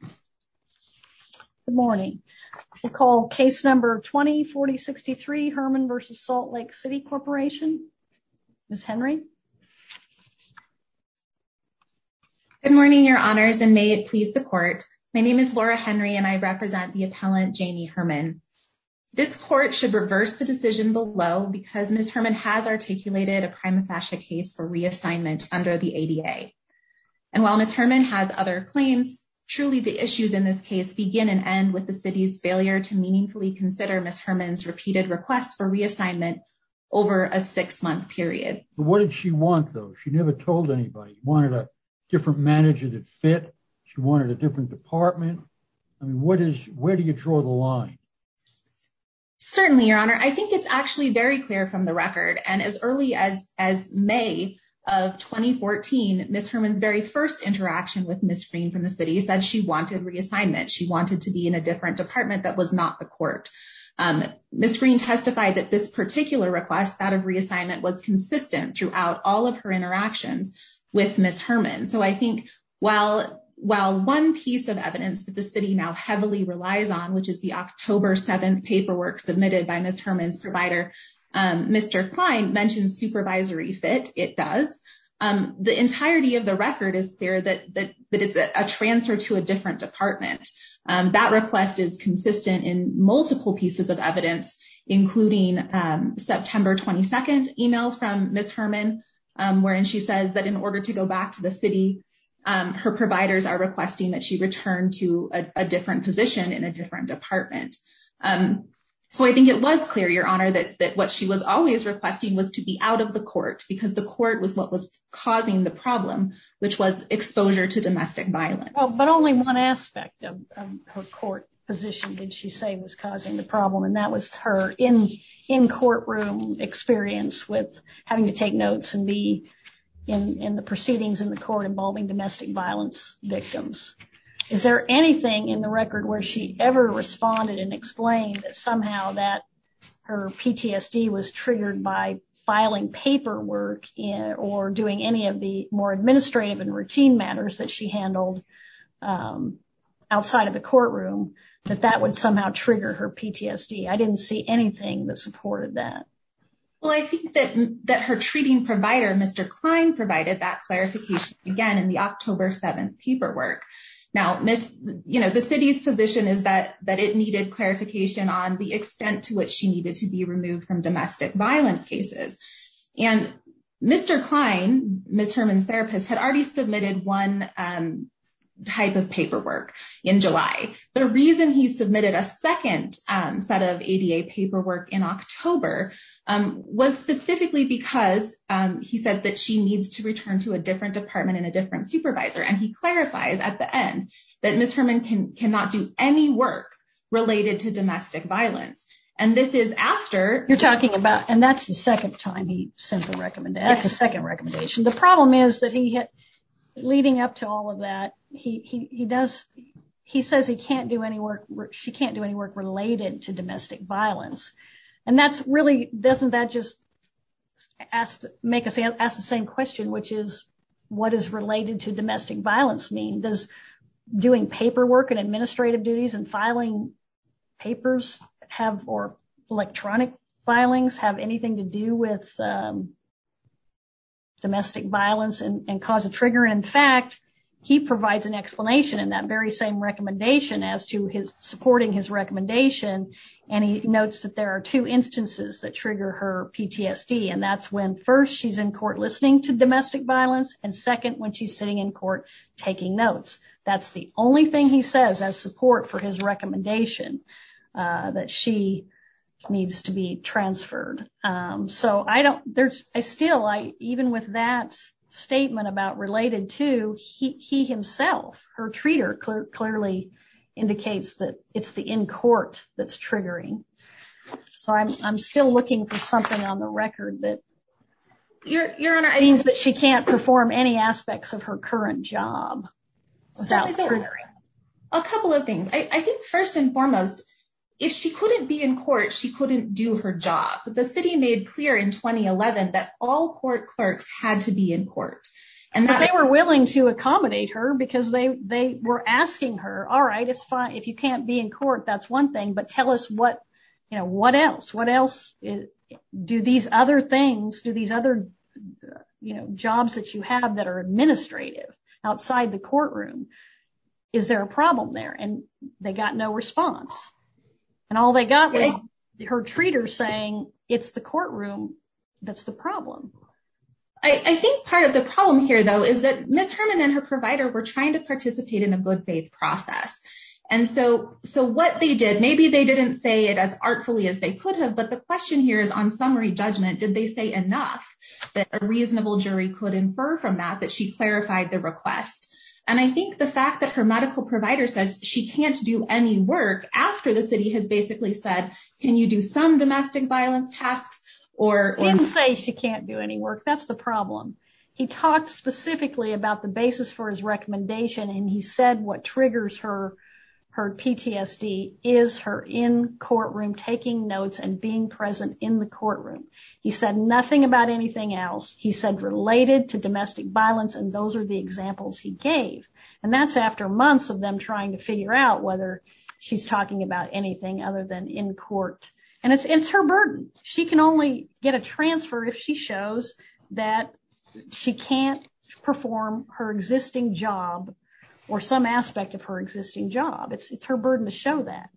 Good morning. I call case number 20-40-63 Hermann v. Salt Lake City Corporation. Ms. Henry. Good morning, your honors, and may it please the court. My name is Laura Henry and I represent the appellant Jamie Hermann. This court should reverse the decision below because Ms. Hermann has articulated a prima facie case for reassignment under the ADA. And while Ms. Hermann has other claims, truly the issues in this case begin and end with the city's failure to meaningfully consider Ms. Hermann's repeated requests for reassignment over a six-month period. What did she want, though? She never told anybody. She wanted a different manager that fit. She wanted a different department. I mean, what is, where do you draw the line? Certainly, your honor, I think it's actually very clear from the record. And as early as May of 2014, Ms. Hermann's very first interaction with Ms. Green from the city said she wanted reassignment. She wanted to be in a different department that was not the court. Ms. Green testified that this particular request, that of reassignment, was consistent throughout all of her interactions with Ms. Hermann. And so I think while one piece of evidence that the city now heavily relies on, which is the October 7th paperwork submitted by Ms. Hermann's provider, Mr. Klein mentioned supervisory fit. It does. The entirety of the record is there that it's a transfer to a different department. That request is consistent in multiple pieces of evidence, including September 22nd email from Ms. Hermann. Wherein she says that in order to go back to the city, her providers are requesting that she return to a different position in a different department. So I think it was clear, your honor, that what she was always requesting was to be out of the court because the court was what was causing the problem, which was exposure to domestic violence. But only one aspect of her court position did she say was causing the problem, and that was her in courtroom experience with having to take notes and be in the proceedings in the court involving domestic violence victims. Is there anything in the record where she ever responded and explained that somehow that her PTSD was triggered by filing paperwork or doing any of the more administrative and routine matters that she handled outside of the courtroom, that that would somehow trigger her PTSD? I didn't see anything that supported that. Well, I think that her treating provider, Mr. Klein, provided that clarification again in the October 7th paperwork. Now, the city's position is that it needed clarification on the extent to which she needed to be removed from domestic violence cases. And Mr. Klein, Ms. Herman's therapist, had already submitted one type of paperwork in July. The reason he submitted a second set of ADA paperwork in October was specifically because he said that she needs to return to a different department and a different supervisor. And he clarifies at the end that Ms. Herman cannot do any work related to domestic violence. You're talking about, and that's the second time he sent the recommendation. That's the second recommendation. The problem is that he had, leading up to all of that, he does, he says he can't do any work, she can't do any work related to domestic violence. And that's really, doesn't that just ask, make us ask the same question, which is, what is related to domestic violence mean? Does doing paperwork and administrative duties and filing papers have, or electronic filings, have anything to do with domestic violence and cause a trigger? In fact, he provides an explanation in that very same recommendation as to his supporting his recommendation. And he notes that there are two instances that trigger her PTSD. And that's when, first, she's in court listening to domestic violence, and second, when she's sitting in court taking notes. That's the only thing he says as support for his recommendation, that she needs to be transferred. So I don't, there's, I still, even with that statement about related to, he himself, her treater, clearly indicates that it's the in court that's triggering. So I'm still looking for something on the record that means that she can't perform any aspects of her current job. A couple of things. I think, first and foremost, if she couldn't be in court, she couldn't do her job. The city made clear in 2011 that all court clerks had to be in court. And they were willing to accommodate her because they were asking her, all right, it's fine. If you can't be in court, that's one thing. But tell us what, you know, what else, what else do these other things, do these other, you know, jobs that you have that are administrative outside the courtroom. Is there a problem there? And they got no response. And all they got was her treater saying it's the courtroom that's the problem. I think part of the problem here, though, is that Ms. Herman and her provider were trying to participate in a good faith process. And so so what they did, maybe they didn't say it as artfully as they could have. But the question here is, on summary judgment, did they say enough that a reasonable jury could infer from that that she clarified the request? And I think the fact that her medical provider says she can't do any work after the city has basically said, can you do some domestic violence tests or say she can't do any work? That's the problem. He talked specifically about the basis for his recommendation. And he said what triggers her her PTSD is her in courtroom taking notes and being present in the courtroom. He said nothing about anything else he said related to domestic violence. And those are the examples he gave. And that's after months of them trying to figure out whether she's talking about anything other than in court. And it's her burden. She can only get a transfer if she shows that she can't perform her existing job or some aspect of her existing job. It's her burden to show that.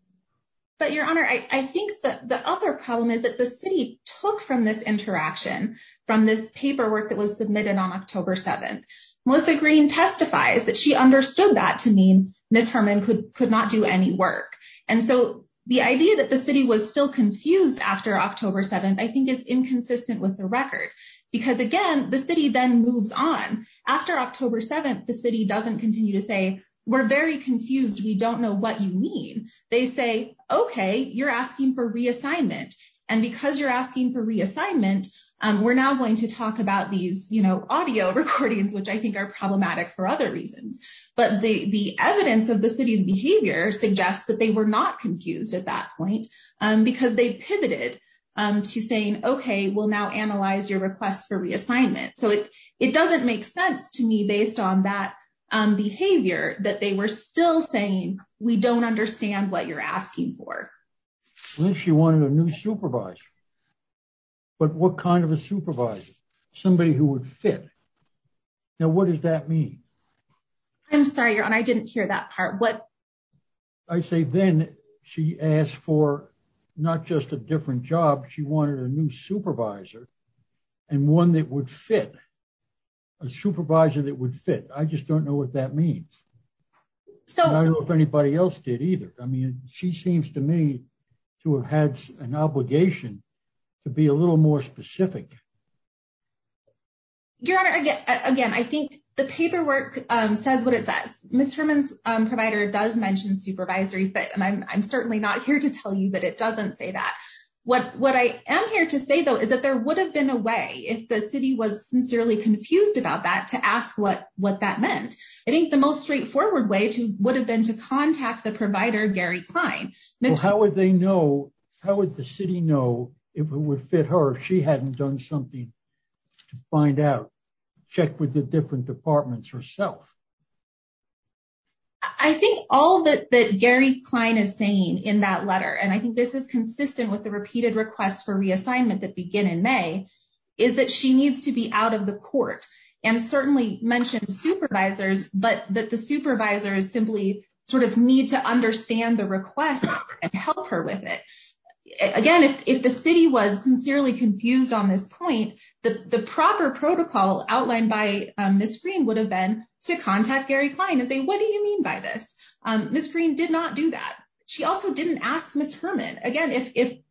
But your honor, I think that the other problem is that the city took from this interaction, from this paperwork that was submitted on October 7th. Melissa Green testifies that she understood that to mean Ms. Herman could could not do any work. And so the idea that the city was still confused after October 7th, I think, is inconsistent with the record because, again, the city then moves on after October 7th. The city doesn't continue to say we're very confused. We don't know what you mean. They say, okay, you're asking for reassignment. And because you're asking for reassignment, we're now going to talk about these audio recordings, which I think are problematic for other reasons. But the evidence of the city's behavior suggests that they were not confused at that point because they pivoted to saying, okay, we'll now analyze your request for reassignment. So it doesn't make sense to me, based on that behavior, that they were still saying, we don't understand what you're asking for. She wanted a new supervisor. But what kind of a supervisor? Somebody who would fit. Now, what does that mean? I'm sorry, I didn't hear that part. I say then she asked for not just a different job, she wanted a new supervisor. And one that would fit a supervisor that would fit. I just don't know what that means. I don't know if anybody else did either. I mean, she seems to me to have had an obligation to be a little more specific. Your Honor, again, I think the paperwork says what it says. Ms. Herman's provider does mention supervisory fit, and I'm certainly not here to tell you that it doesn't say that. What I am here to say, though, is that there would have been a way, if the city was sincerely confused about that, to ask what that meant. I think the most straightforward way would have been to contact the provider, Gary Klein. How would the city know if it would fit her if she hadn't done something to find out, check with the different departments herself? I think all that Gary Klein is saying in that letter, and I think this is consistent with the repeated requests for reassignment that begin in May, is that she needs to be out of the court. And certainly mentioned supervisors, but that the supervisors simply need to understand the request and help her with it. Again, if the city was sincerely confused on this point, the proper protocol outlined by Ms. Green would have been to contact Gary Klein and say, what do you mean by this? Ms. Green did not do that. She also didn't ask Ms. Herman. Again,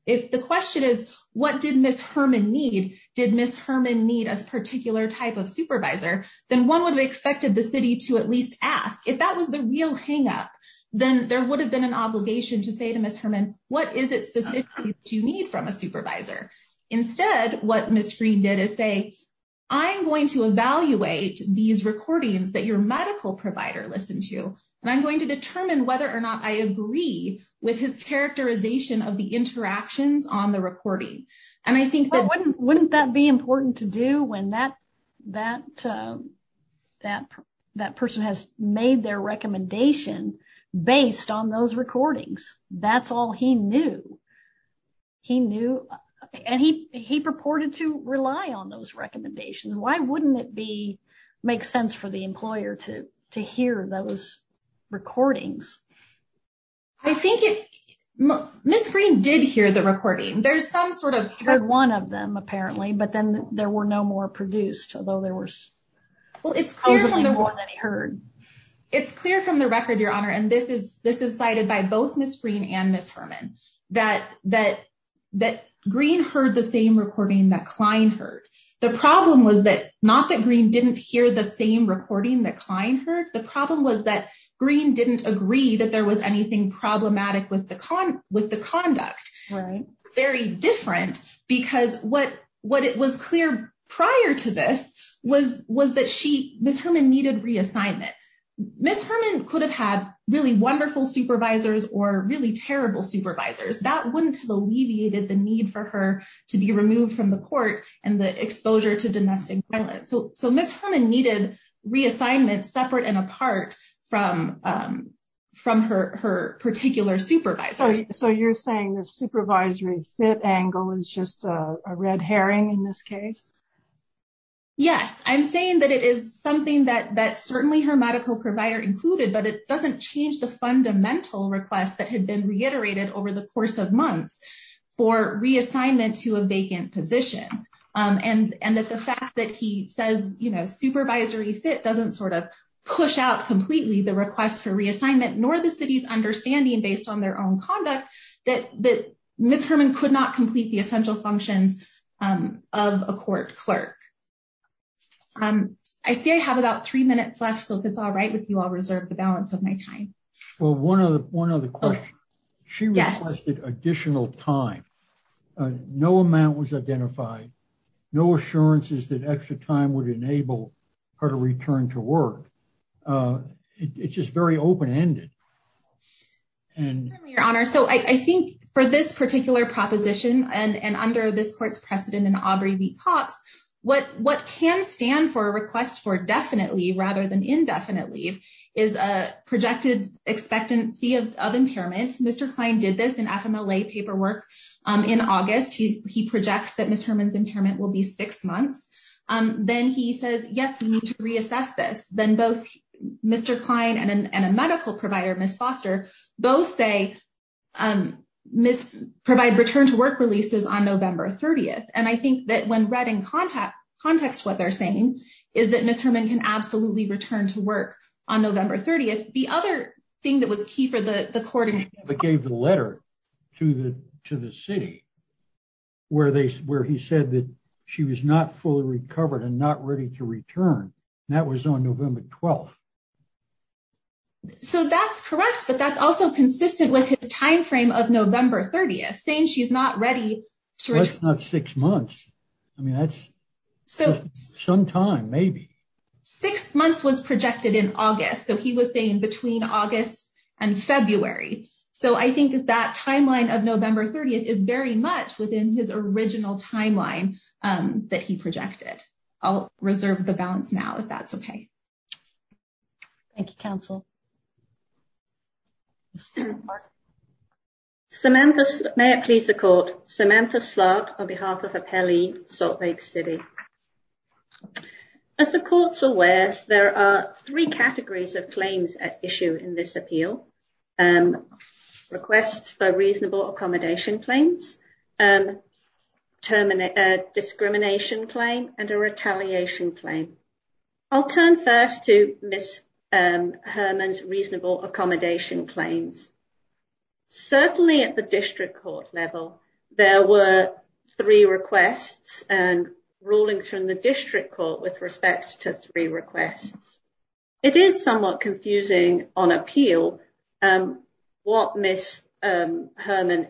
if the question is, what did Ms. Herman need? Did Ms. Herman need a particular type of supervisor? Then one would have expected the city to at least ask. If that was the real hang up, then there would have been an obligation to say to Ms. Herman, what is it specifically that you need from a supervisor? Instead, what Ms. Green did is say, I'm going to evaluate these recordings that your medical provider listened to, and I'm going to determine whether or not I agree with his characterization of the interactions on the recording. Wouldn't that be important to do when that person has made their recommendation based on those recordings? That's all he knew. He knew and he purported to rely on those recommendations. Why wouldn't it make sense for the employer to hear those recordings? I think Ms. Green did hear the recording. There's some sort of one of them, apparently, but then there were no more produced, although there was. Well, it's clear from the record, Your Honor, and this is cited by both Ms. Green and Ms. Herman, that Green heard the same recording that Klein heard. The problem was that not that Green didn't hear the same recording that Klein heard. The problem was that Green didn't agree that there was anything problematic with the conduct. Very different because what it was clear prior to this was that Ms. Herman needed reassignment. Ms. Herman could have had really wonderful supervisors or really terrible supervisors. That wouldn't have alleviated the need for her to be removed from the court and the exposure to domestic violence. So Ms. Herman needed reassignment separate and apart from her particular supervisors. So you're saying the supervisory fit angle is just a red herring in this case? Yes, I'm saying that it is something that certainly her medical provider included, but it doesn't change the fundamental request that had been reiterated over the course of months for reassignment to a vacant position. And that the fact that he says supervisory fit doesn't sort of push out completely the request for reassignment, nor the city's understanding based on their own conduct, that Ms. Herman could not complete the essential functions of a court clerk. I see I have about three minutes left, so if it's all right with you, I'll reserve the balance of my time. One other question. She requested additional time. No amount was identified. No assurances that extra time would enable her to return to work. It's just very open ended. Your Honor, so I think for this particular proposition and under this court's precedent in Aubrey v. Cox, what can stand for a request for definitely rather than indefinitely is a projected expectancy of impairment. Mr. Klein did this in FMLA paperwork in August. He projects that Ms. Herman's impairment will be six months. Then he says, yes, we need to reassess this. Then both Mr. Klein and a medical provider, Ms. Foster, both say provide return to work releases on November 30th. And I think that when read in context what they're saying is that Ms. Herman can absolutely return to work on November 30th. The other thing that was key for the court in this case is that he gave the letter to the city where he said that she was not fully recovered and not ready to return. That was on November 12th. So that's correct, but that's also consistent with his timeframe of November 30th, saying she's not ready to return. That's not six months. I mean, that's some time, maybe. Six months was projected in August. So he was saying between August and February. So I think that timeline of November 30th is very much within his original timeline that he projected. I'll reserve the balance now if that's okay. Thank you, counsel. Samantha, may it please the court. Samantha Slark, on behalf of Apelli Salt Lake City. As the courts aware, there are three categories of claims at issue in this appeal. Requests for reasonable accommodation claims, terminate a discrimination claim and a retaliation claim. I'll turn first to Miss Herman's reasonable accommodation claims. Certainly at the district court level, there were three requests and rulings from the district court with respect to three requests. It is somewhat confusing on appeal what Miss Herman,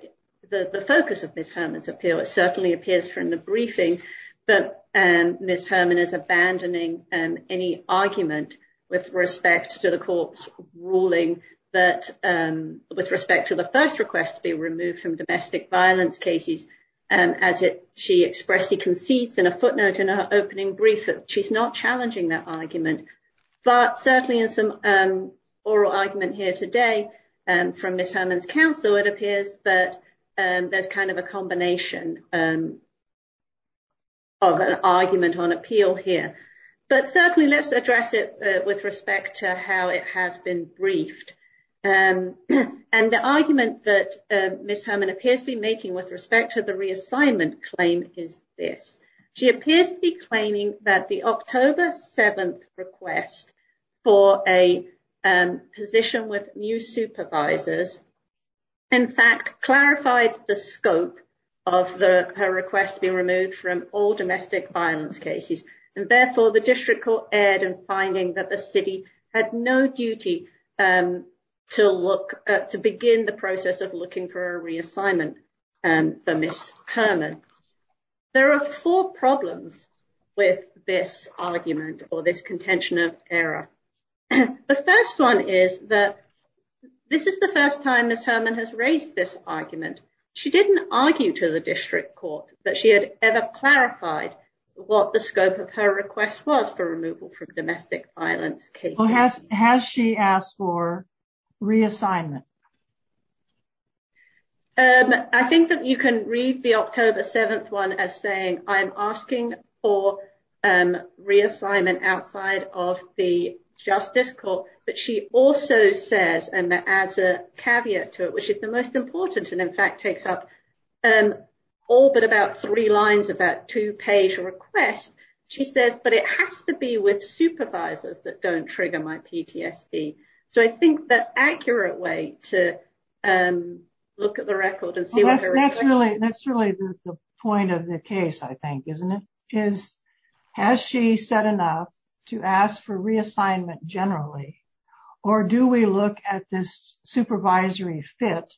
the focus of Miss Herman's appeal. It certainly appears from the briefing that Miss Herman is abandoning any argument with respect to the court's ruling. But with respect to the first request to be removed from domestic violence cases, as she expressed, she concedes in a footnote in her opening brief that she's not challenging that argument. But certainly in some oral argument here today from Miss Herman's counsel, it appears that there's kind of a combination of an argument on appeal here. But certainly, let's address it with respect to how it has been briefed. And the argument that Miss Herman appears to be making with respect to the reassignment claim is this. She appears to be claiming that the October 7th request for a position with new supervisors, in fact, clarified the scope of her request to be removed from all domestic violence cases. And therefore, the district court erred in finding that the city had no duty to look to begin the process of looking for a reassignment for Miss Herman. There are four problems with this argument or this contention of error. The first one is that this is the first time Miss Herman has raised this argument. She didn't argue to the district court that she had ever clarified what the scope of her request was for removal from domestic violence cases. Has she asked for reassignment? I think that you can read the October 7th one as saying I'm asking for reassignment outside of the justice court. But she also says, and that adds a caveat to it, which is the most important. And in fact, takes up all but about three lines of that two page request. She says, but it has to be with supervisors that don't trigger my PTSD. So I think that's accurate way to look at the record and see what that's really. That's really the point of the case, I think, isn't it? Is has she said enough to ask for reassignment generally? Or do we look at this supervisory fit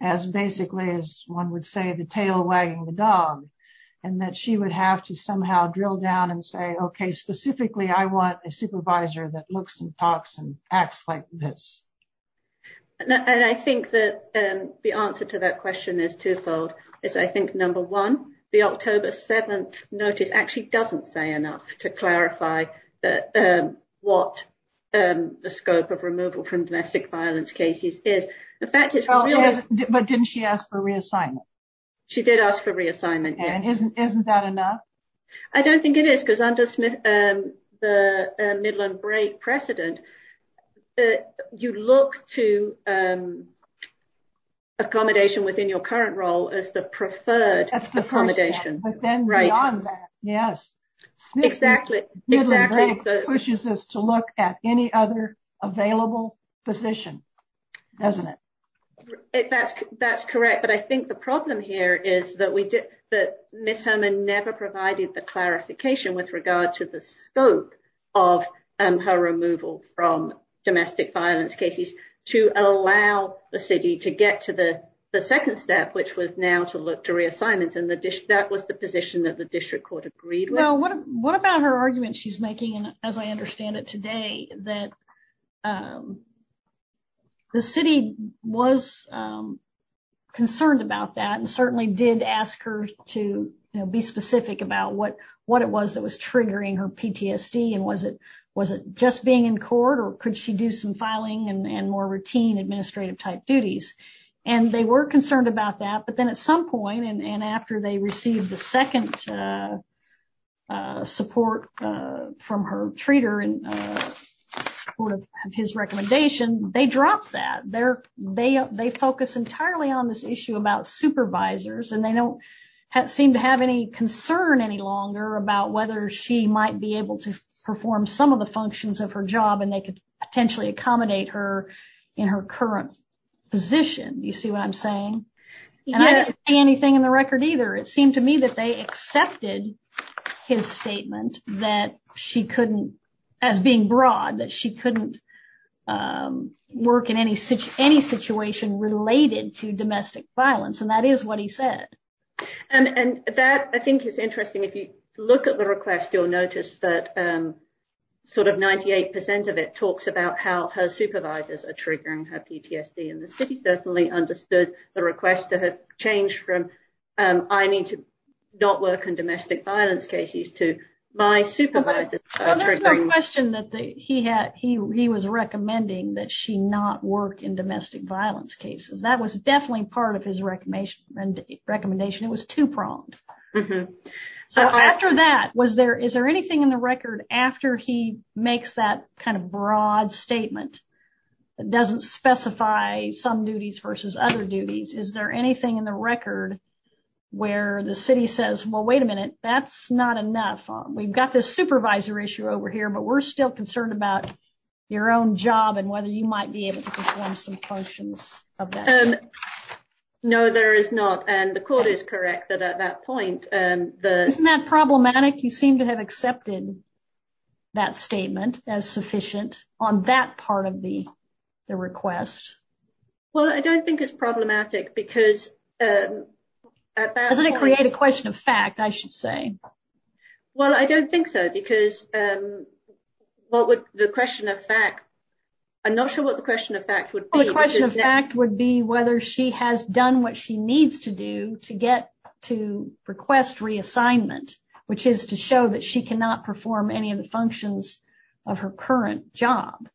as basically as one would say the tail wagging the dog and that she would have to somehow drill down and say, OK, specifically, I want a supervisor that looks and talks and acts like this. And I think that the answer to that question is twofold is I think, number one, the October 7th notice actually doesn't say enough to clarify what the scope of removal from domestic violence cases is. In fact, it's not. But didn't she ask for reassignment? She did ask for reassignment. And isn't that enough? I don't think it is, because I'm just the middle and break precedent. You look to accommodation within your current role as the preferred accommodation. Right. Yes, exactly. Exactly. Pushes us to look at any other available position, doesn't it? If that's that's correct. But I think the problem here is that we did that. Miss Herman never provided the clarification with regard to the scope of her removal from domestic violence cases to allow the city to get to the second step, which was now to look to reassignments in the dish. That was the position that the district court agreed. Well, what what about her argument she's making, as I understand it today, that. The city was concerned about that and certainly did ask her to be specific about what what it was that was triggering her PTSD. And was it was it just being in court or could she do some filing and more routine administrative type duties? And they were concerned about that. But then at some point and after they received the second support from her treater in support of his recommendation, they dropped that there. They they focus entirely on this issue about supervisors and they don't seem to have any concern any longer about whether she might be able to perform some of the functions of her job. And they could potentially accommodate her in her current position. You see what I'm saying? And I didn't see anything in the record either. It seemed to me that they accepted his statement that she couldn't as being broad, that she couldn't work in any such any situation related to domestic violence. And that is what he said. And that, I think, is interesting. If you look at the request, you'll notice that sort of 98 percent of it talks about how her supervisors are triggering her PTSD. And the city certainly understood the request to have changed from I need to not work in domestic violence cases to my supervisor. There's no question that he had he he was recommending that she not work in domestic violence cases. That was definitely part of his recommendation and recommendation. It was two pronged. So after that, was there is there anything in the record after he makes that kind of broad statement that doesn't specify some duties versus other duties? Is there anything in the record where the city says, well, wait a minute, that's not enough. We've got this supervisor issue over here, but we're still concerned about your own job and whether you might be able to perform some functions of that. And no, there is not. And the court is correct that at that point, the not problematic. You seem to have accepted that statement as sufficient on that part of the request. Well, I don't think it's problematic because that doesn't create a question of fact, I should say. Well, I don't think so, because what would the question of fact? I'm not sure what the question of fact would be. The question of fact would be whether she has done what she needs to do to get to request reassignment, which is to show that she cannot perform any of the functions of her current job.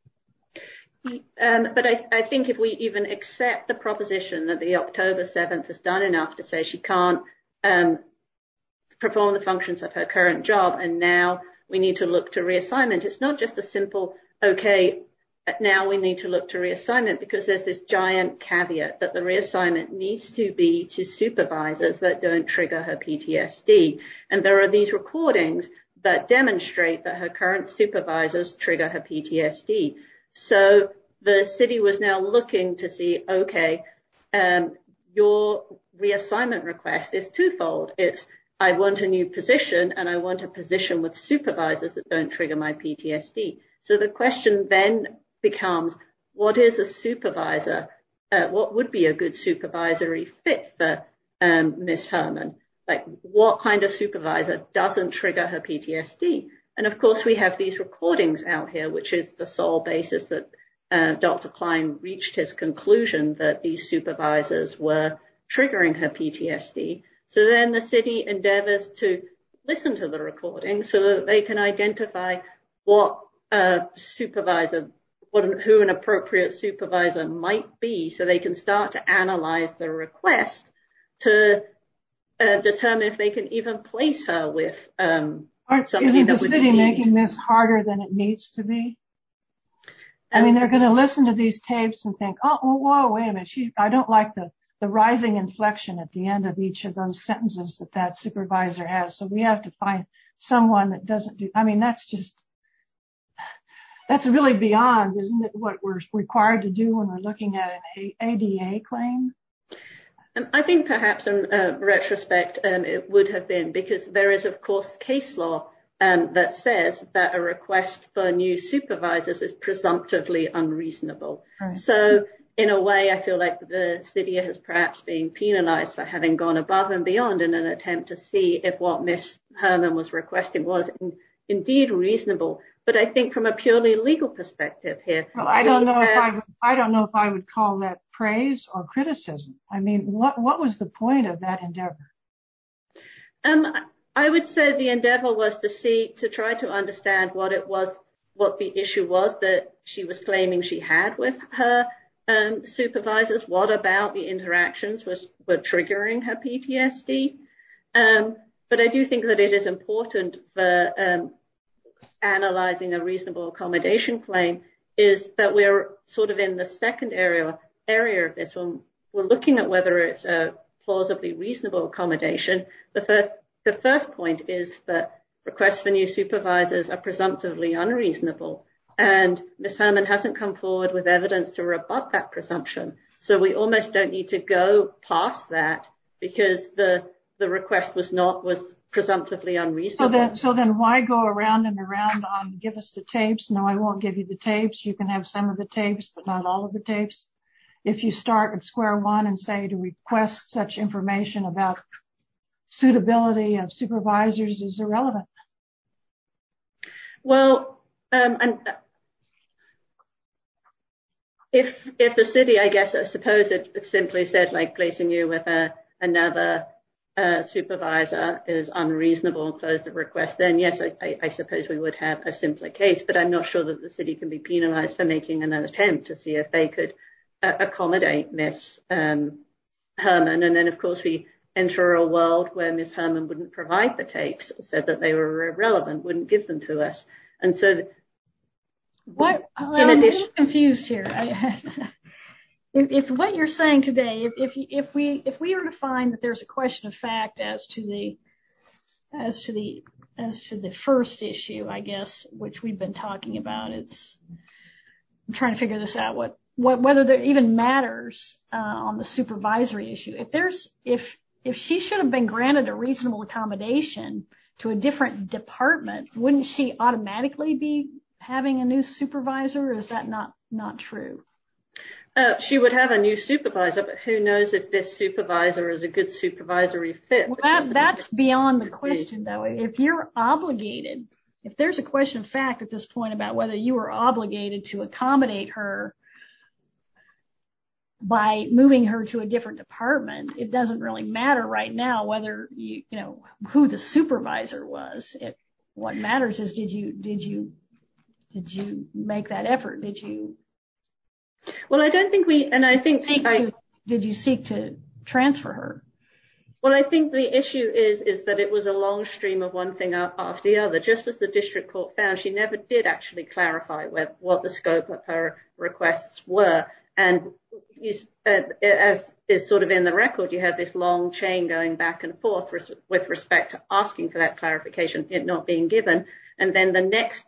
But I think if we even accept the proposition that the October 7th has done enough to say she can't perform the functions of her current job. And now we need to look to reassignment. It's not just a simple. OK, now we need to look to reassignment because there's this giant caveat that the reassignment needs to be to supervisors that don't trigger her PTSD. And there are these recordings that demonstrate that her current supervisors trigger her PTSD. So the city was now looking to see, OK, your reassignment request is twofold. It's I want a new position and I want a position with supervisors that don't trigger my PTSD. So the question then becomes, what is a supervisor? What would be a good supervisory fit for Miss Herman? What kind of supervisor doesn't trigger her PTSD? And of course, we have these recordings out here, which is the sole basis that Dr. Klein reached his conclusion that these supervisors were triggering her PTSD. So then the city endeavors to listen to the recording so that they can identify what supervisor, who an appropriate supervisor might be so they can start to analyze the request to determine if they can even place her with. Aren't you the city making this harder than it needs to be? I mean, they're going to listen to these tapes and think, oh, whoa, wait a minute. I don't like the the rising inflection at the end of each of those sentences that that supervisor has. So we have to find someone that doesn't do. I mean, that's just. That's really beyond what we're required to do when we're looking at a claim. And I think perhaps in retrospect, it would have been because there is, of course, case law that says that a request for new supervisors is presumptively unreasonable. So in a way, I feel like the city has perhaps been penalized for having gone above and beyond in an attempt to see if what Miss Herman was requesting was indeed reasonable. But I think from a purely legal perspective here, I don't know. I don't know if I would call that praise or criticism. I mean, what what was the point of that endeavor? And I would say the endeavor was to see to try to understand what it was, what the issue was that she was claiming she had with her supervisors. What about the interactions which were triggering her PTSD? But I do think that it is important for analyzing a reasonable accommodation claim is that we are sort of in the second area, area of this one. We're looking at whether it's a plausibly reasonable accommodation. The first the first point is that requests for new supervisors are presumptively unreasonable. And Miss Herman hasn't come forward with evidence to rebut that presumption. So we almost don't need to go past that because the the request was not was presumptively unreasonable. So then why go around and around? Give us the tapes. No, I won't give you the tapes. You can have some of the tapes, but not all of the tapes. If you start at square one and say to request such information about suitability of supervisors is irrelevant. Well, if if the city, I guess, I suppose it simply said, like, placing you with another supervisor is unreasonable. Close the request. Then, yes, I suppose we would have a simpler case, but I'm not sure that the city can be penalized for making an attempt to see if they could accommodate Miss Herman. And then, of course, we enter a world where Miss Herman wouldn't provide the tapes said that they were irrelevant, wouldn't give them to us. And so. What I'm confused here. If what you're saying today, if we if we are to find that there's a question of fact as to the as to the as to the first issue, I guess, which we've been talking about, it's trying to figure this out. What whether that even matters on the supervisory issue. If there's if if she should have been granted a reasonable accommodation to a different department, wouldn't she automatically be having a new supervisor? Is that not not true? She would have a new supervisor. Who knows if this supervisor is a good supervisory fit? Well, that's beyond the question, though. If you're obligated, if there's a question of fact at this point about whether you are obligated to accommodate her. By moving her to a different department, it doesn't really matter right now whether you know who the supervisor was. What matters is, did you did you did you make that effort? Did you. Well, I don't think we and I think I did you seek to transfer her. Well, I think the issue is, is that it was a long stream of one thing after the other. Just as the district court found, she never did actually clarify what the scope of her requests were. And as is sort of in the record, you have this long chain going back and forth with respect to asking for that clarification. It not being given. And then the next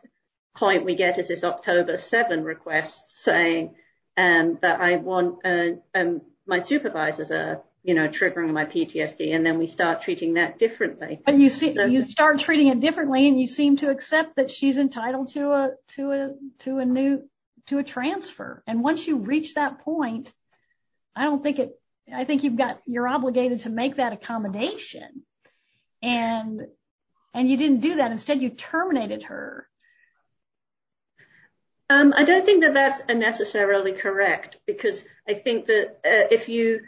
point we get is this October seven request saying that I want my supervisors, you know, triggering my PTSD. And then we start treating that differently. But you see, you start treating it differently and you seem to accept that she's entitled to a to a to a new to a transfer. And once you reach that point, I don't think it I think you've got you're obligated to make that accommodation. And and you didn't do that. Instead, you terminated her. I don't think that that's necessarily correct, because I think that if you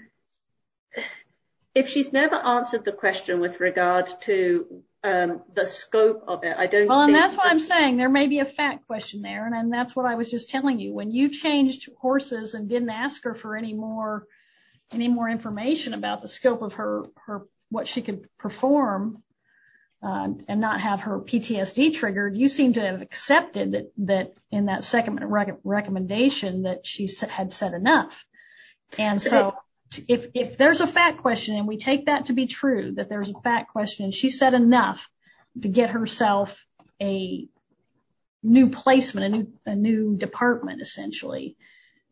if she's never answered the question with regard to the scope of it, I don't think that's what I'm saying. There may be a fact question there. And that's what I was just telling you when you changed horses and didn't ask her for any more, information about the scope of her or what she could perform and not have her PTSD triggered. You seem to have accepted that in that second recommendation that she had said enough. And so if there's a fact question and we take that to be true, that there's a fact question, she said enough to get herself a new placement, a new department, essentially.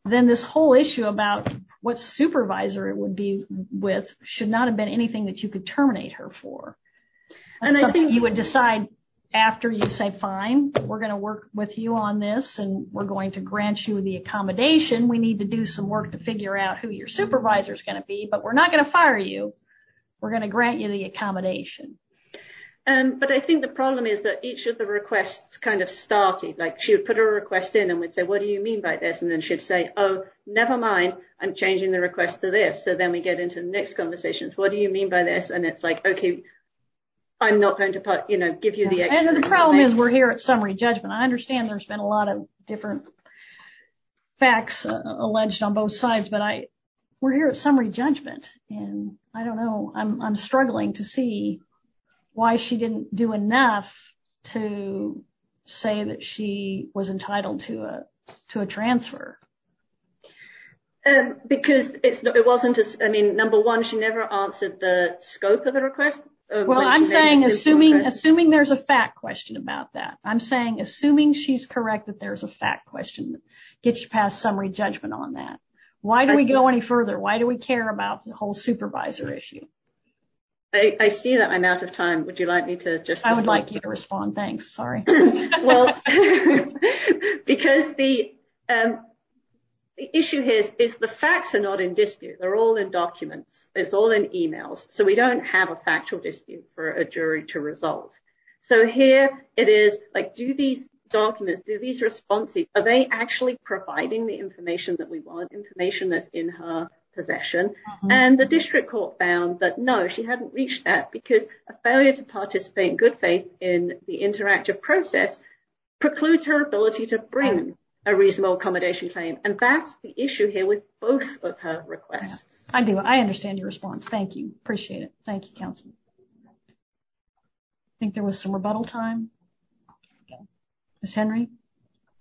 Then this whole issue about what supervisor it would be with should not have been anything that you could terminate her for. And I think you would decide after you say, fine, we're going to work with you on this and we're going to grant you the accommodation. We need to do some work to figure out who your supervisor is going to be, but we're not going to fire you. We're going to grant you the accommodation. But I think the problem is that each of the requests kind of started like she would put a request in and would say, what do you mean by this? And then she'd say, oh, never mind. I'm changing the request to this. So then we get into the next conversations. What do you mean by this? And it's like, OK. I'm not going to give you the answer. The problem is we're here at summary judgment. I understand there's been a lot of different facts alleged on both sides. But I we're here at summary judgment. And I don't know. I'm struggling to see why she didn't do enough to say that she was entitled to a to a transfer. Because it wasn't just I mean, number one, she never answered the scope of the request. Well, I'm saying assuming assuming there's a fact question about that. I'm saying assuming she's correct, that there's a fact question that gets you past summary judgment on that. Why do we go any further? Why do we care about the whole supervisor issue? I see that I'm out of time. Would you like me to just like you to respond? Thanks. Sorry. Well, because the issue here is the facts are not in dispute. They're all in documents. It's all in emails. So we don't have a factual dispute for a jury to resolve. So here it is like do these documents do these responses? Are they actually providing the information that we want information that's in her possession? And the district court found that, no, she hadn't reached that because a failure to participate in good faith in the interactive process precludes her ability to bring a reasonable accommodation claim. And that's the issue here with both of her requests. I do. I understand your response. Thank you. Appreciate it. Thank you, counsel. I think there was some rebuttal time. Miss Henry.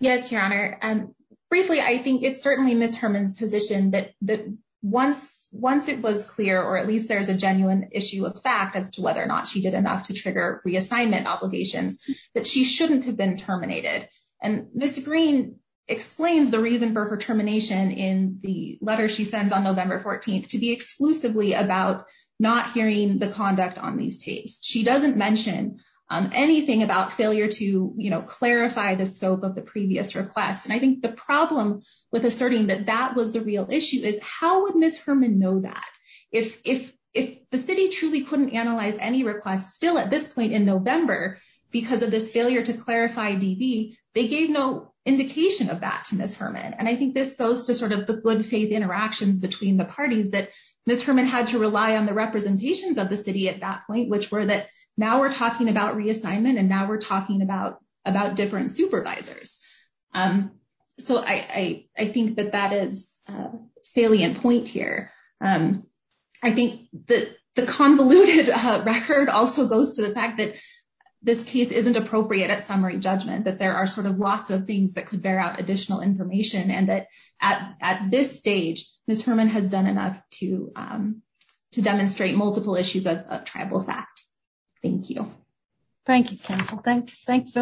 Yes, your honor. And briefly, I think it's certainly Miss Herman's position that that once once it was clear, or at least there is a genuine issue of fact as to whether or not she did enough to trigger reassignment obligations that she shouldn't have been terminated. And Miss Green explains the reason for her termination in the letter she sends on November 14th to be exclusively about not hearing the conduct on these tapes. She doesn't mention anything about failure to clarify the scope of the previous request. And I think the problem with asserting that that was the real issue is how would Miss Herman know that if if if the city truly couldn't analyze any requests still at this point in November, because of this failure to clarify DB, they gave no indication of that to Miss Herman. And I think this goes to sort of the good faith interactions between the parties that Miss Herman had to rely on the representations of the city at that point, which were that now we're talking about reassignment and now we're talking about about different supervisors. So I think that that is a salient point here. I think that the convoluted record also goes to the fact that this case isn't appropriate at summary judgment, that there are sort of lots of things that could bear out additional information and that at this stage, Miss Herman has done enough to to demonstrate multiple issues of tribal fact. Thank you. Thank you. Thank you.